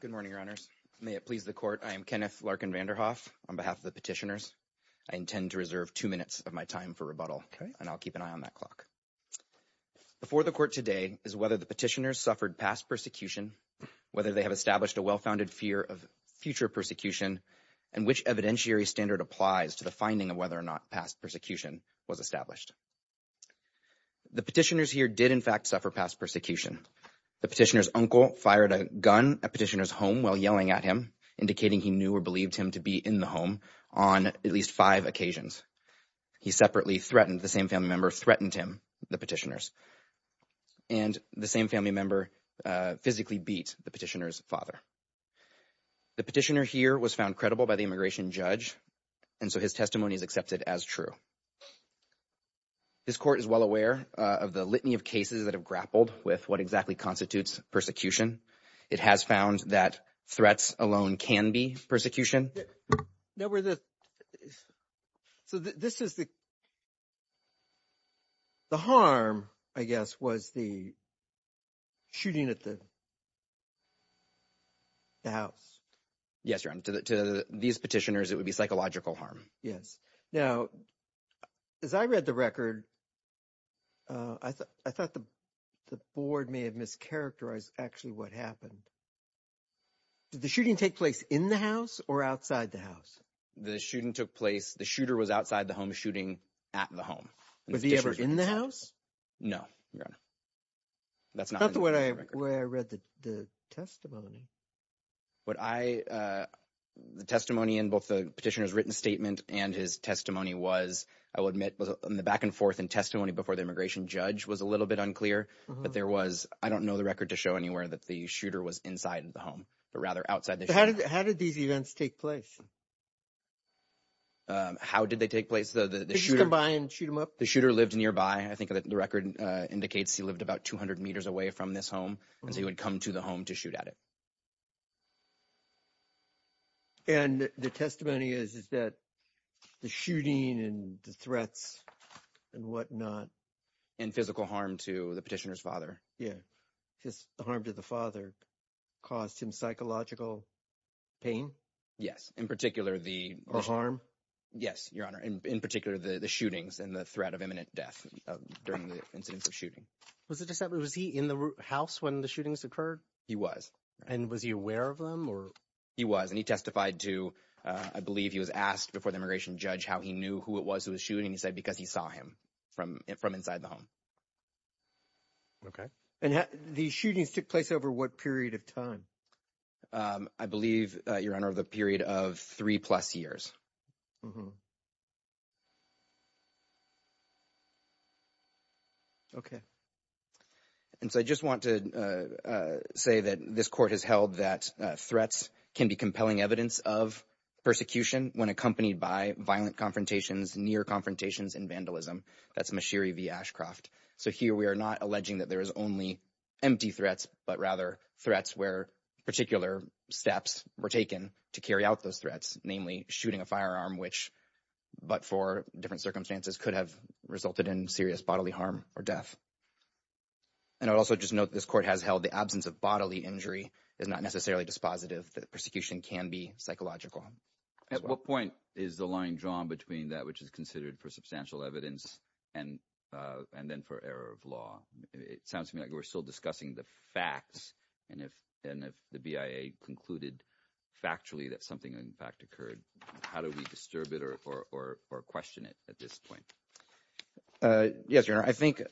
Good morning, Your Honors. May it please the Court, I am Kenneth Larkin Vanderhoff. On behalf of the petitioners, I intend to reserve two minutes of my time for rebuttal, and I'll keep an eye on that clock. Before the Court today is whether the petitioners suffered past persecution, whether they have established a well-founded fear of future persecution, and which evidentiary standard applies to the finding of whether or not past persecution was established. The petitioners here did in fact suffer past persecution. The petitioner's uncle fired a gun at petitioner's home while yelling at him, indicating he knew or believed him to be in the home on at least five occasions. He separately threatened, the same family member threatened him, the petitioners, and the same family member physically beat the petitioner's father. The petitioner here was found credible by the immigration judge, and so his testimony is accepted as true. This Court is well aware of the litany of cases that have grappled with what exactly constitutes persecution. It has found that threats alone can be persecution. Were the, so this is the, the harm, I guess, was the shooting at the house. Yes, Your Honor. To these petitioners, it would be psychological harm. Yes. Now, as I read the record, I thought the board may have mischaracterized actually what happened. Did the shooting take place in the house or outside the house? The shooting took place, the shooter was outside the home shooting at the home. Was he ever in the house? No, Your Honor. That's not the way I read the testimony. What I, the testimony in both the petitioner's written statement and his testimony was, I will admit, was in the back and forth and testimony before the immigration judge was a I don't know the record to show anywhere that the shooter was inside of the home, but rather outside the house. How did these events take place? How did they take place? The shooter. Did you come by and shoot him up? The shooter lived nearby. I think the record indicates he lived about 200 meters away from this home, and so he would come to the home to shoot at it. And the testimony is that the shooting and the threats and whatnot. And physical harm to the petitioner's father. His harm to the father caused him psychological pain? Yes, in particular, the harm. Yes, Your Honor, in particular, the shootings and the threat of imminent death during the incidents of shooting. Was it just that, was he in the house when the shootings occurred? He was. And was he aware of them or? He was, and he testified to, I believe he was asked before the immigration judge how he knew who it was who was shooting. He said because he saw him from from inside the home. OK, and the shootings took place over what period of time? I believe, Your Honor, the period of three plus years. OK. And so I just want to say that this court has held that threats can be compelling evidence of persecution when accompanied by violent confrontations, near confrontations and vandalism. That's Mashiri v. Ashcroft. So here we are not alleging that there is only empty threats, but rather threats where particular steps were taken to carry out those threats, namely shooting a firearm, which but for different circumstances could have resulted in serious bodily harm or death. And I also just note this court has held the absence of bodily injury is not necessarily dispositive that persecution can be psychological. At what point is the line drawn between that which is considered for substantial evidence and and then for error of law? It sounds to me like we're still discussing the facts. And if and if the BIA concluded factually that something in fact occurred, how do we disturb it or question it at this point? Yes, Your Honor, I think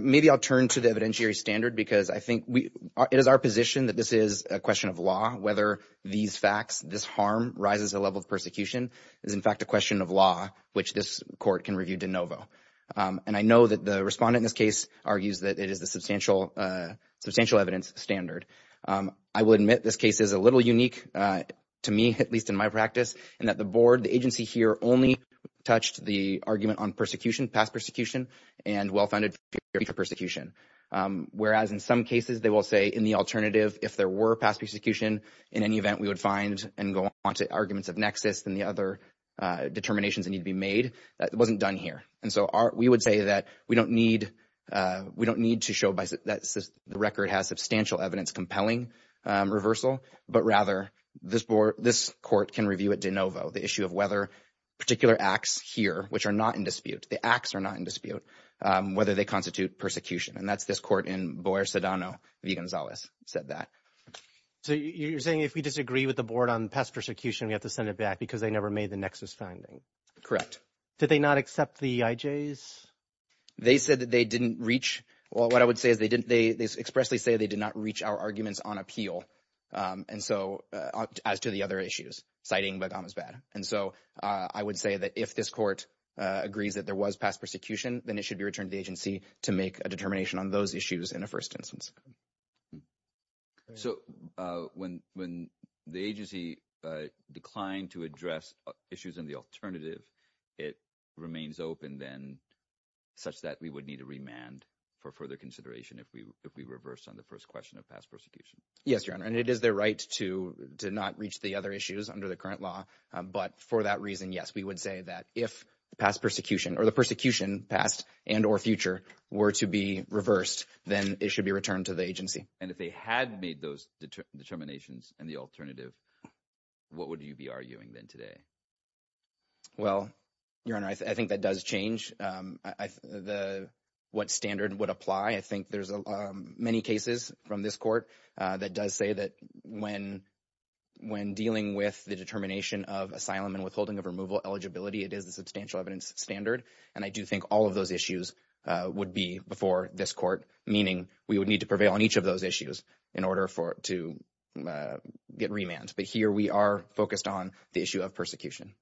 maybe I'll turn to the evidentiary standard because I think we it is our position that this is a question of law, whether these facts, this harm rises, a level of persecution is, in fact, a question of law which this can review de novo. And I know that the respondent in this case argues that it is the substantial substantial evidence standard. I will admit this case is a little unique to me, at least in my practice, and that the board, the agency here only touched the argument on persecution, past persecution and well-founded persecution. Whereas in some cases they will say in the alternative, if there were past persecution, in any event, we would find and go on to arguments of nexus and the other determinations that need to be made. That wasn't done here. And so we would say that we don't need we don't need to show that the record has substantial evidence compelling reversal, but rather this board, this court can review it de novo. The issue of whether particular acts here, which are not in dispute, the acts are not in dispute, whether they constitute persecution. And that's this court in Boer, Sedano, V. Gonzalez said that. So you're saying if we disagree with the board on past persecution, we have to send it back because they never made the nexus finding. Correct. Did they not accept the I.J.'s? They said that they didn't reach. Well, what I would say is they didn't. They expressly say they did not reach our arguments on appeal. And so as to the other issues, citing, but that was bad. And so I would say that if this court agrees that there was past persecution, then it should be returned to the agency to make a determination on those issues in the first instance. So when when the agency declined to address issues in the alternative, it remains open, then such that we would need to remand for further consideration if we if we reverse on the first question of past persecution. Yes, your honor. And it is their right to to not reach the other issues under the current law. But for that reason, yes, we would say that if past persecution or the persecution past and or future were to be reversed, then it should be returned to the agency. And if they had made those determinations and the alternative, what would you be arguing then today? Well, your honor, I think that does change the what standard would apply. I think there's many cases from this court that does say that when when dealing with the determination of asylum and withholding of removal eligibility, it is a substantial evidence standard. And I do think all of those issues would be before this court, meaning we would need to prevail on each of those issues in order for it to get remand. But here we are focused on the issue of persecution.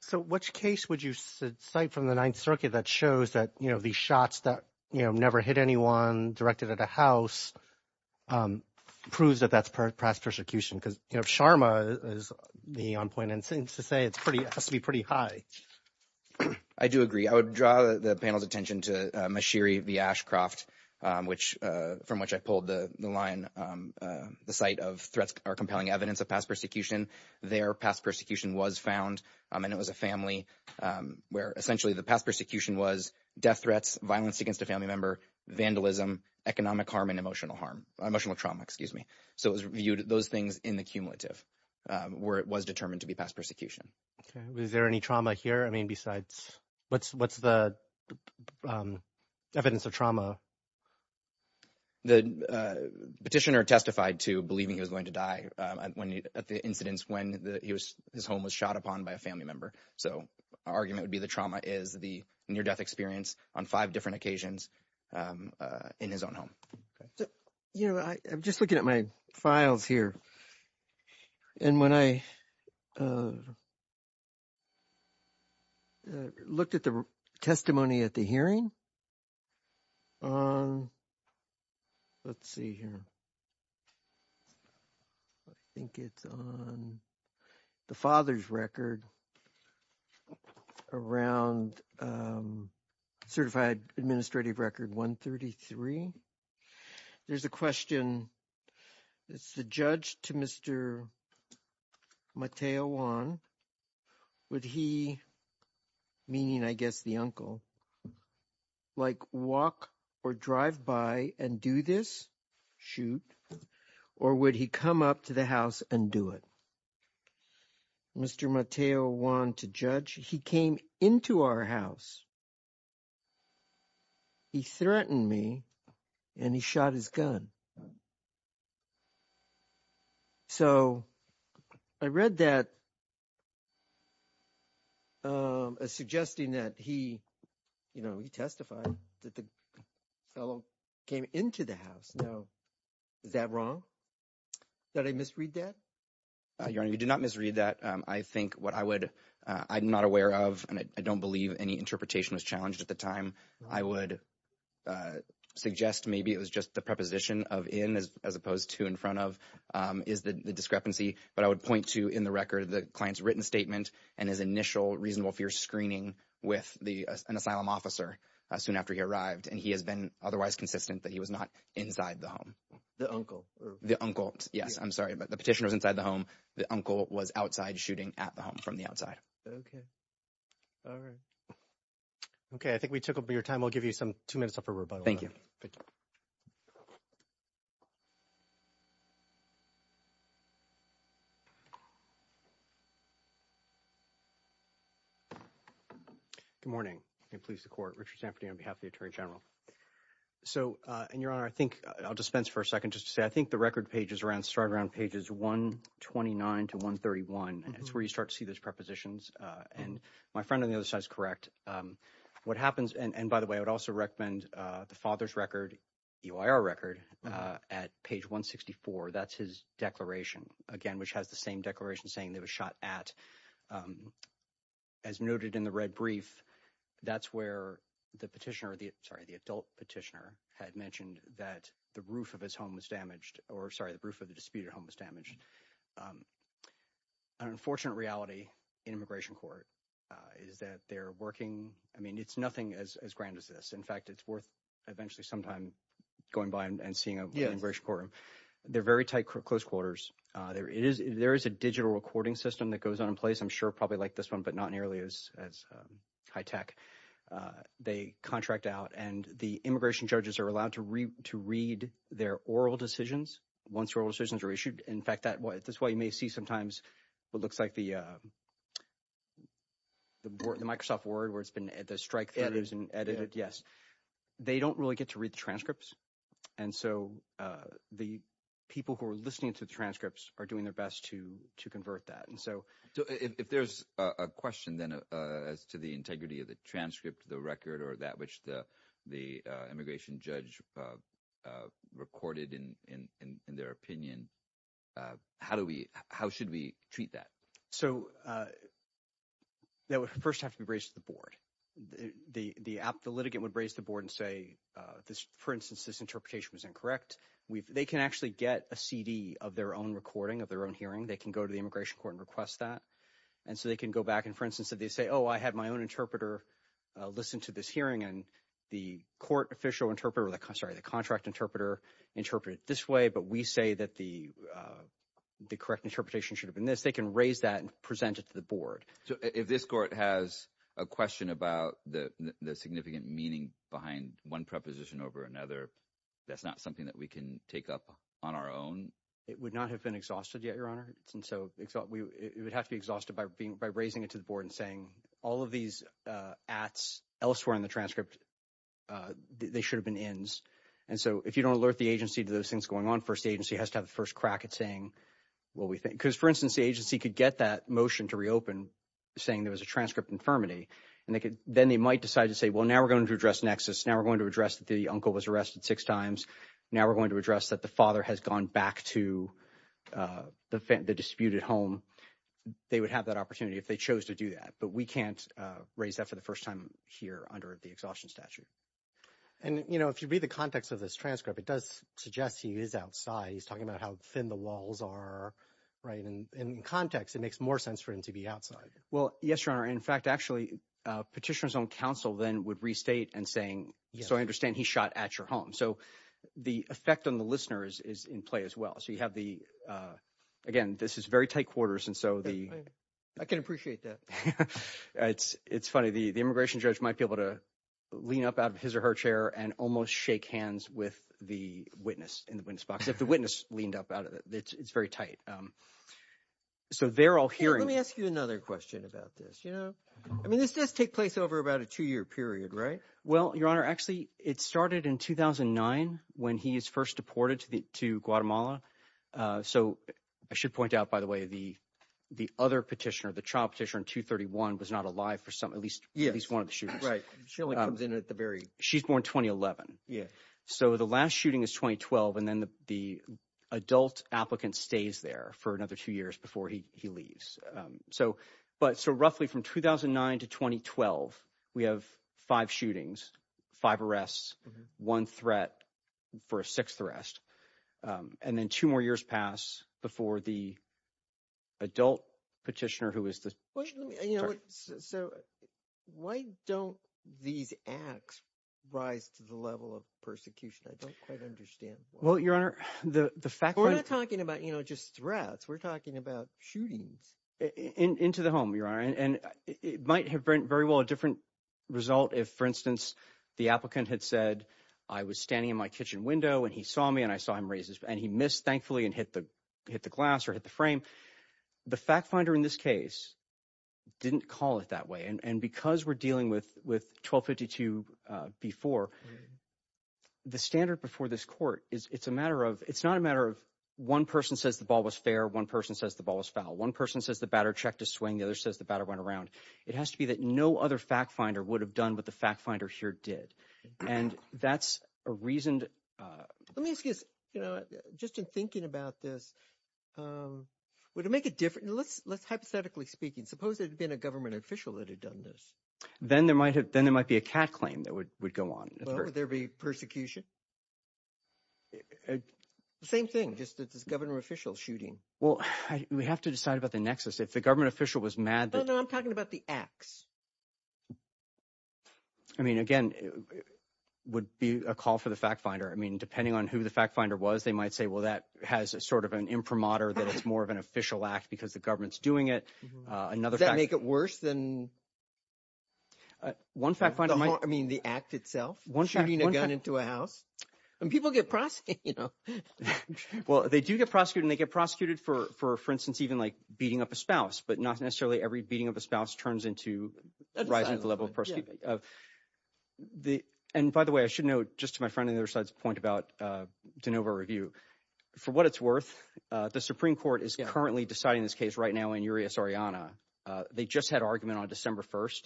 So which case would you cite from the Ninth Circuit that shows that, you know, the shots that, you know, never hit anyone directed at a house proves that that's past persecution, because Sharma is the on point and seems to say it's pretty has to be pretty high. I do agree. I would draw the panel's attention to Mashiri, the Ashcroft, which from which I pulled the line, the site of threats are compelling evidence of past persecution. Their past persecution was found and it was a family where essentially the past persecution was death threats, violence against a family member, vandalism, economic harm and emotional harm, emotional trauma, excuse me. So it was viewed those things in the cumulative where it was determined to be past persecution. Is there any trauma here? I mean, besides what's what's the evidence of trauma? The petitioner testified to believing he was going to die when at the incidents when he was his home was shot upon by a family member. So our argument would be the trauma is the near death experience on five different occasions in his own home. You know, I'm just looking at my files here. And when I. Looked at the testimony at the hearing. Let's see here. I think it's on the father's record. Around certified administrative record 133. There's a question. It's the judge to Mr. Mateo Juan. Would he meaning, I guess the uncle. Like walk or drive by and do this shoot or would he come up to the house and do it? Mr. Mateo Juan to judge he came into our house. He threatened me and he shot his gun. So I read that. Suggesting that he, you know, he testified that the fellow came into the house. No. Is that wrong? That I misread that? Your honor, you do not misread that. I think what I would I'm not aware of, and I don't believe any interpretation was challenged at the time I would. Suggest maybe it was just the preposition of in as opposed to in front of is the discrepancy, but I would point to in the record of the client's written statement and his initial reasonable fear screening with the asylum officer soon after he arrived, and he has been otherwise consistent that he was not inside the home. The uncle, the uncle. Yes, I'm sorry, but the petition was inside the home. The uncle was outside shooting at the home from the outside. OK. All right. OK, I think we took up your time. I'll give you some two minutes for rebuttal. Thank you. Good morning and please support Richard Samperty on behalf of the Attorney General. So and your honor, I think I'll dispense for a second just to say I think the record pages start around pages one twenty nine to one thirty one. That's where you start to see those prepositions. And my friend on the other side is correct. What happens and by the way, I would also recommend the father's record record at page one sixty four. That's his declaration again, which has the same declaration saying they were shot at as noted in the red brief. That's where the petitioner or the sorry, the adult petitioner had mentioned that the roof of his home was damaged or sorry, the roof of the disputed home was damaged. An unfortunate reality in immigration court is that they're working. I mean, it's nothing as grand as this. In fact, it's worth eventually sometime going by and seeing a immigration court. They're very tight, close quarters. There is there is a digital recording system that goes on in place. I'm sure probably like this one, but not nearly as high tech. They contract out and the immigration judges are allowed to read to read their oral decisions once oral decisions are issued. In fact, that's why you may see sometimes what looks like the. The Microsoft Word where it's been at the strike and edited. Yes, they don't really get to read the transcripts. And so the people who are listening to the transcripts are doing their best to to convert that. And so if there's a question then as to the integrity of the transcript, the record or that which the the immigration judge recorded in their opinion, how do we how should we treat that so? That would first have to be raised to the board. The app, the litigant would raise the board and say this, for instance, this interpretation was incorrect. They can actually get a CD of their own recording of their own hearing. They can go to the immigration court and request that. And so they can go back and, for instance, if they say, oh, I had my own interpreter listen to this hearing and the court official interpreter, sorry, the contract interpreter interpreted this way. But we say that the the correct interpretation should have been this. They can raise that and present it to the board. So if this court has a question about the significant meaning behind one preposition over another, that's not something that we can take up on our own. It would not have been exhausted yet, Your Honor. And so it would have to be by raising it to the board and saying all of these acts elsewhere in the transcript, they should have been ends. And so if you don't alert the agency to those things going on first, the agency has to have the first crack at saying what we think, because, for instance, the agency could get that motion to reopen saying there was a transcript infirmity and they could then they might decide to say, well, now we're going to address nexus. Now we're going to address that the uncle was arrested six times. Now we're going to address that the father has gone back to the dispute at home. They would have that opportunity if they chose to do that. But we can't raise that for the first time here under the exhaustion statute. And, you know, if you read the context of this transcript, it does suggest he is outside. He's talking about how thin the walls are. Right. And in context, it makes more sense for him to be outside. Well, yes, Your Honor. In fact, actually, petitioners on counsel then would restate and I understand he shot at your home. So the effect on the listeners is in play as well. So you have the again, this is very tight quarters. And so I can appreciate that. It's it's funny. The immigration judge might be able to lean up out of his or her chair and almost shake hands with the witness in the witness box if the witness leaned up out of it. It's very tight. So they're all here. Let me ask you another question about this. You know, I mean, this does take place over about a two year period, right? Well, Your Honor, actually, it started in 2009 when he's first deported to Guatemala. So I should point out, by the way, the the other petitioner, the child petitioner in two thirty one was not alive for some at least. Yeah, he's one of the shooters. Right. She only comes in at the very. She's born twenty eleven. Yeah. So the last shooting is twenty twelve. And then the adult applicant stays there for another two years before he he leaves. So but so roughly from 2009 to 2012, we have five shootings, five arrests, one threat for a sixth arrest, and then two more years pass before the. Adult petitioner who is the you know, so why don't these acts rise to the level of persecution? I don't quite understand. Well, Your Honor, the fact we're talking about, you know, just threats, we're talking about shootings into the home, Your Honor, and it might have been very well a different result if, for instance, the applicant had said I was standing in my kitchen window and he saw me and I saw him raises and he missed, thankfully, and hit the hit the glass or hit the frame. The fact finder in this case didn't call it that way. And because we're dealing with with twelve fifty two before the standard before this court, it's a matter of it's not a matter of one person says the ball was fair. One person says the ball was foul. One person says the batter checked a swing. The other says the batter went around. It has to be that no other fact finder would have done what the fact finder here did. And that's a reason. Let me ask you, you know, just in thinking about this, would it make a difference? Let's let's hypothetically speaking, suppose it had been a government official that had done this, then there might have then there might be a claim that would would go on. Would there be persecution? Same thing, just as governor official shooting. Well, we have to decide about the nexus. If the government official was mad, I'm talking about the acts. I mean, again, it would be a call for the fact finder. I mean, depending on who the fact finder was, they might say, well, that has sort of an imprimatur that it's more of an official act because the government's doing it. Another thing that make it worse than. One fact finder, I mean, the act itself, one shooting a gun into a house and people get prosecuted, you know, well, they do get prosecuted and they get prosecuted for for instance, even like beating up a spouse, but not necessarily every beating of a spouse turns into rising the level of the. And by the way, I should note just to my friend and their side's point about DeNova review, for what it's worth, the Supreme Court is currently deciding this case right now in Urias-Oriana. They just had argument on December 1st.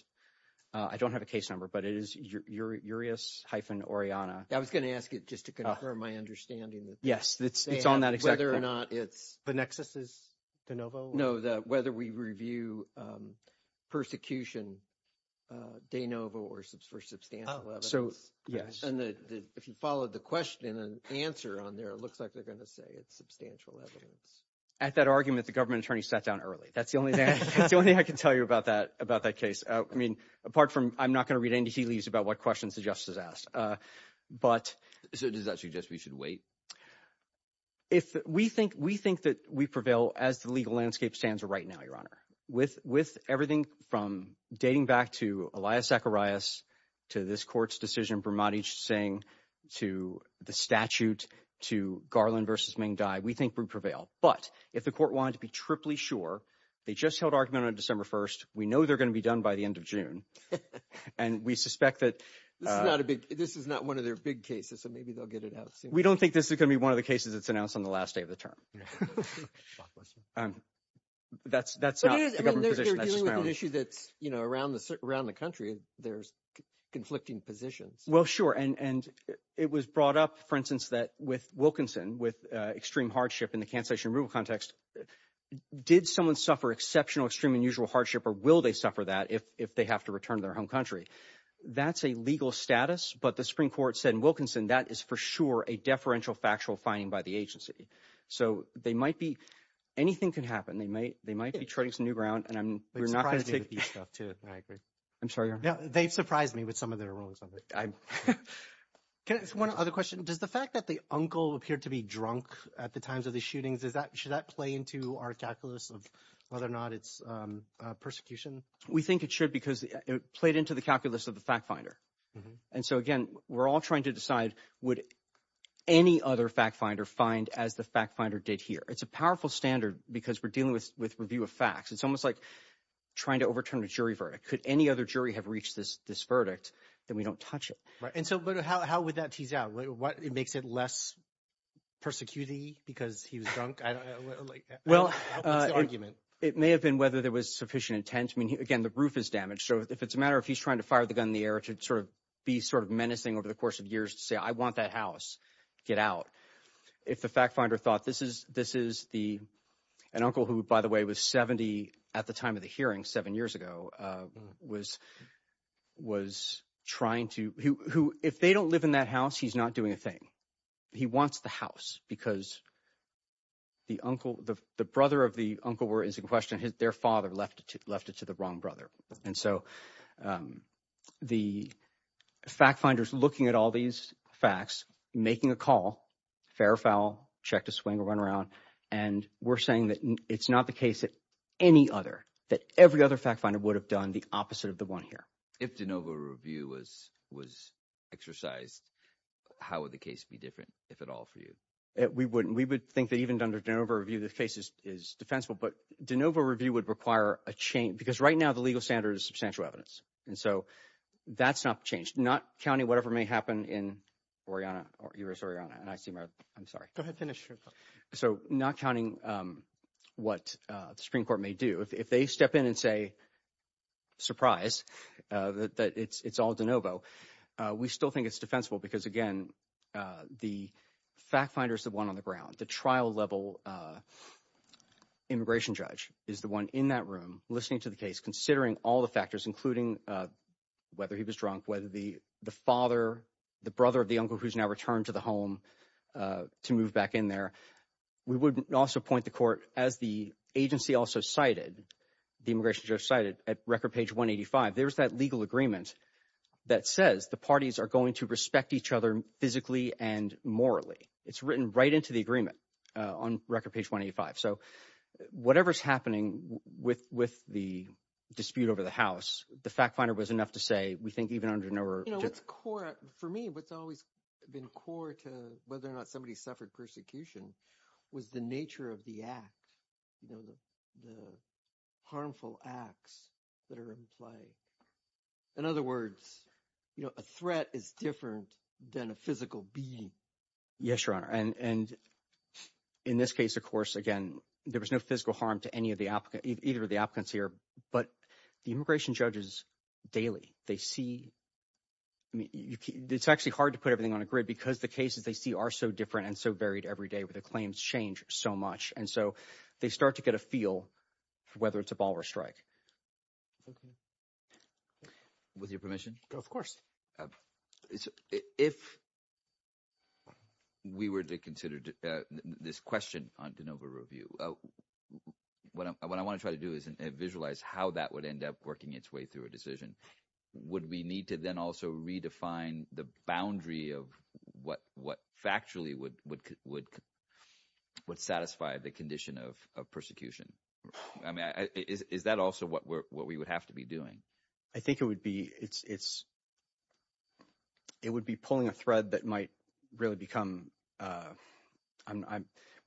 I don't have a case number, but it is Urias-Oriana. I was going to ask it just to confirm my understanding. Yes, it's on that exactly. Whether or not it's the nexus is DeNova. No, the whether we review persecution DeNova or for substantial evidence. So, yes. And if you followed the question and answer on there, it looks like they're going to say it's substantial evidence. At that argument, the government attorney sat down early. That's the only thing I can tell you about that about that case. I mean, apart from I'm not going to read into he leaves about what questions the justice asked. But so does that suggest we should wait? If we think we think that we prevail as the legal landscape stands right now, Your Honor, with with everything from dating back to Elias Zacharias to this court's decision, Brahmati Singh to the statute to Garland versus Ming Dai, we think we But if the court wanted to be triply sure, they just held argument on December 1st. We know they're going to be done by the end of June. And we suspect that this is not a big this is not one of their big cases. So maybe they'll get it out. We don't think this is going to be one of the cases that's announced on the last day of the term. That's that's not an issue that's around around the country. There's conflicting positions. Well, sure. And it was brought up, for instance, that with Wilkinson, with extreme hardship in the cancellation rule context, did someone suffer exceptional, extreme, unusual hardship? Or will they suffer that if if they have to return to their home country? That's a legal status. But the Supreme Court said Wilkinson, that is for sure, a deferential factual finding by the agency. So they might be anything can happen. They may they might be trading some new ground. And I'm not going to take these stuff, too. I agree. I'm sorry. They've surprised me with some of their rulings on that. I can ask one other question. Does the fact that the uncle appeared to be drunk at the times of the shootings, is that should that play into our calculus of whether or not it's persecution? We think it should, because it played into the calculus of the fact finder. And so, again, we're all trying to decide, would any other fact finder find as the fact finder did here? It's a powerful standard because we're dealing with with review of facts. It's almost like trying to overturn a jury verdict. Could any other jury have reached this this verdict that we don't touch it? Right. And so how would that tease out what it makes it less persecuting because he was drunk? Well, it may have been whether there was sufficient intent. I mean, again, the roof is damaged. So if it's a matter of he's trying to fire the gun in the air to sort of be sort of menacing over the course of years to say, I want that house get out. If the fact finder thought this is this is the an uncle who, by the way, was 70 at the time of the trying to who if they don't live in that house, he's not doing a thing. He wants the house because the uncle, the brother of the uncle, where is the question? Their father left left it to the wrong brother. And so the fact finders looking at all these facts, making a call, fair or foul, check to swing or run around. And we're saying that it's not the case that any other that every other fact finder would have done the opposite of the one here. If DeNovo review was was exercised, how would the case be different, if at all, for you? We wouldn't. We would think that even under DeNovo review, the case is defensible. But DeNovo review would require a change because right now the legal standard is substantial evidence. And so that's not changed. Not counting whatever may happen in Oriana or Arizona. And I see. I'm sorry. Go ahead. Finish. So not counting what the Supreme Court may do if they step in and say. Surprise that it's all DeNovo. We still think it's defensible because, again, the fact finders, the one on the ground, the trial level. Immigration judge is the one in that room listening to the case, considering all the factors, including whether he was drunk, whether the the father, the brother of the uncle, who's now returned to the home to move back in there. We would also point the court, as the agency also cited, the immigration judge cited at record page 185, there's that legal agreement that says the parties are going to respect each other physically and morally. It's written right into the agreement on record page 185. So whatever's happening with with the dispute over the House, the fact finder was enough to say, we think even under DeNovo. You know, it's core for me. What's always been core to whether or not somebody suffered persecution was the nature of the act, you know, the harmful acts that are in play. In other words, you know, a threat is different than a physical beating. Yes, your honor. And in this case, of course, again, there was no physical harm to any of the either of the applicants here. But the immigration judges daily, they see it's actually hard to put everything on a grid because the cases they see are so different and so varied every day with the claims change so much. And so they start to get a feel for whether it's a ball or strike. With your permission, of course, if we were to consider this question on DeNovo review, what I want to try to do is visualize how that would end up working its way through decision. Would we need to then also redefine the boundary of what what factually would satisfy the condition of persecution? I mean, is that also what we would have to be doing? I think it would be it's. It would be pulling a thread that might really become.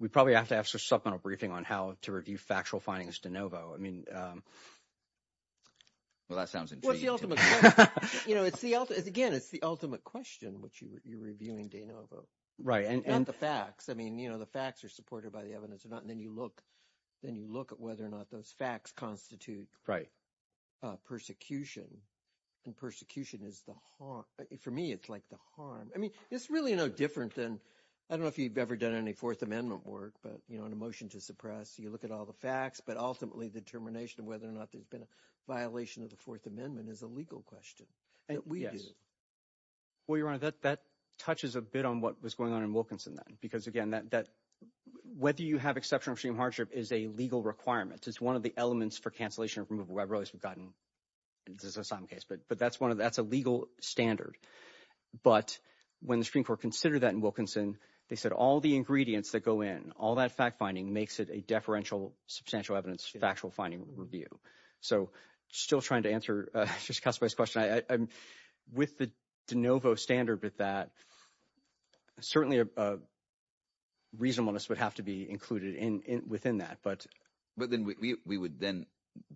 We probably have to have some supplemental briefing on how to review factual findings DeNovo. I mean. Well, that sounds like, you know, it's the it's again, it's the ultimate question, which you're reviewing DeNovo, right? And the facts, I mean, you know, the facts are supported by the evidence or not. And then you look then you look at whether or not those facts constitute. Right. Persecution and persecution is the for me, it's like the harm. I mean, it's really no different than I don't know if you've ever done any Fourth Amendment work, but, you know, in a motion to suppress, you look at all the facts, but ultimately the determination of whether or not there's been a violation of the Fourth Amendment is a legal question that we do. Well, your honor, that that touches a bit on what was going on in Wilkinson then, because, again, that that whether you have exceptional extreme hardship is a legal requirement. It's one of the elements for cancellation of removal. I realize we've gotten this is a some case, but but that's one of that's a legal standard. But when the Supreme Court consider that in Wilkinson, they said all the ingredients that go in all that fact finding makes it a deferential substantial evidence, factual finding review. So still trying to answer just a question. I'm with the DeNovo standard, but that certainly a reasonableness would have to be included in within that. But but then we would then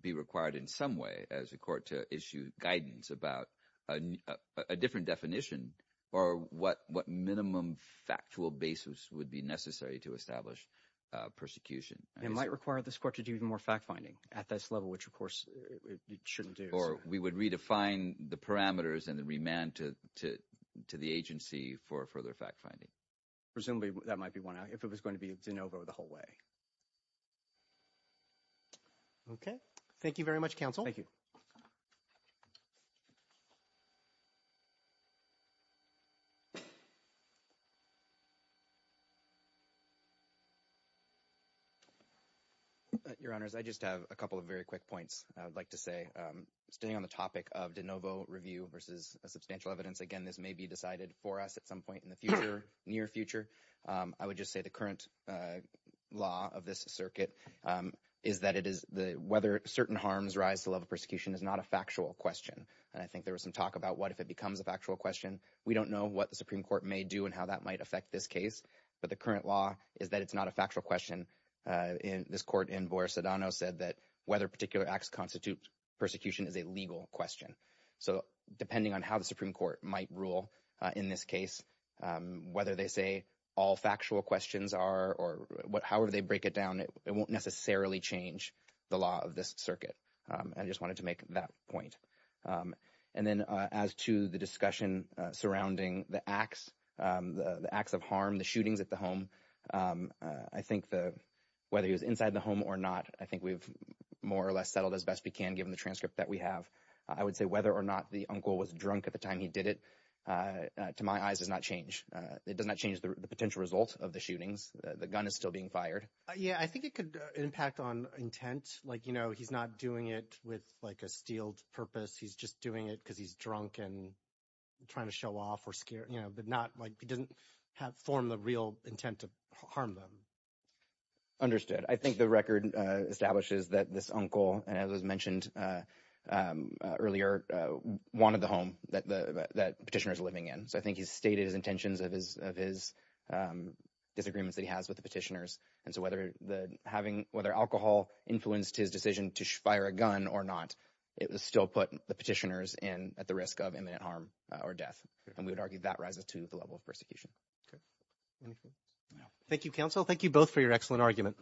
be required in some way as a court to issue guidance about a different definition or what what minimum factual basis would be necessary to establish persecution. It might require this court to do more fact finding at this level, which, of course, it shouldn't do. Or we would redefine the parameters and the remand to to to the agency for further fact finding. Presumably that might be one if it was going to be DeNovo the whole way. OK, thank you very much, counsel. Thank you. Your honors, I just have a couple of very quick points I'd like to say. Staying on the topic of DeNovo review versus a substantial evidence. Again, this may be decided for us at some point in the future, near future. I would just say the current law of this circuit is that it is the whether certain harms rise to level persecution is not a factual question. And I think there was some talk about what if it becomes a factual question. We don't know what the Supreme Court may do and how that might affect this case. But the current law is that it's not a factual question. And this court in Boer Sedano said that whether particular acts constitute persecution is a legal question. So depending on how the Supreme Court might rule in this case, whether they say all factual questions are or however they break it down, it won't necessarily change the law of this circuit. I just wanted to make that point. And then as to the discussion surrounding the acts, the acts of harm, the shootings at the home, I think the whether he was inside the home or not, I think we've more or less settled as best we can given the transcript that we have. I would say whether or not the uncle was drunk at the time he did it to my eyes does not change. It does not change the potential result of the shootings. The gun is still being fired. Yeah, I think it could impact on intent. Like, you know, he's not doing it with like a steeled purpose. He's just doing it because he's drunk and trying to show off or scare, you know, but not like he doesn't have form the real intent to harm them. Understood. I think the record establishes that this uncle, as was mentioned earlier, wanted the home that the petitioner is living in. So I think he's stated his intentions of his disagreements that he has with the petitioners. And so whether the having whether alcohol influenced his decision to fire a gun or not, it was still put the petitioners in at the risk of imminent harm or death. And we would argue that rises to the level of persecution. Thank you, counsel. Thank you both for your excellent argument.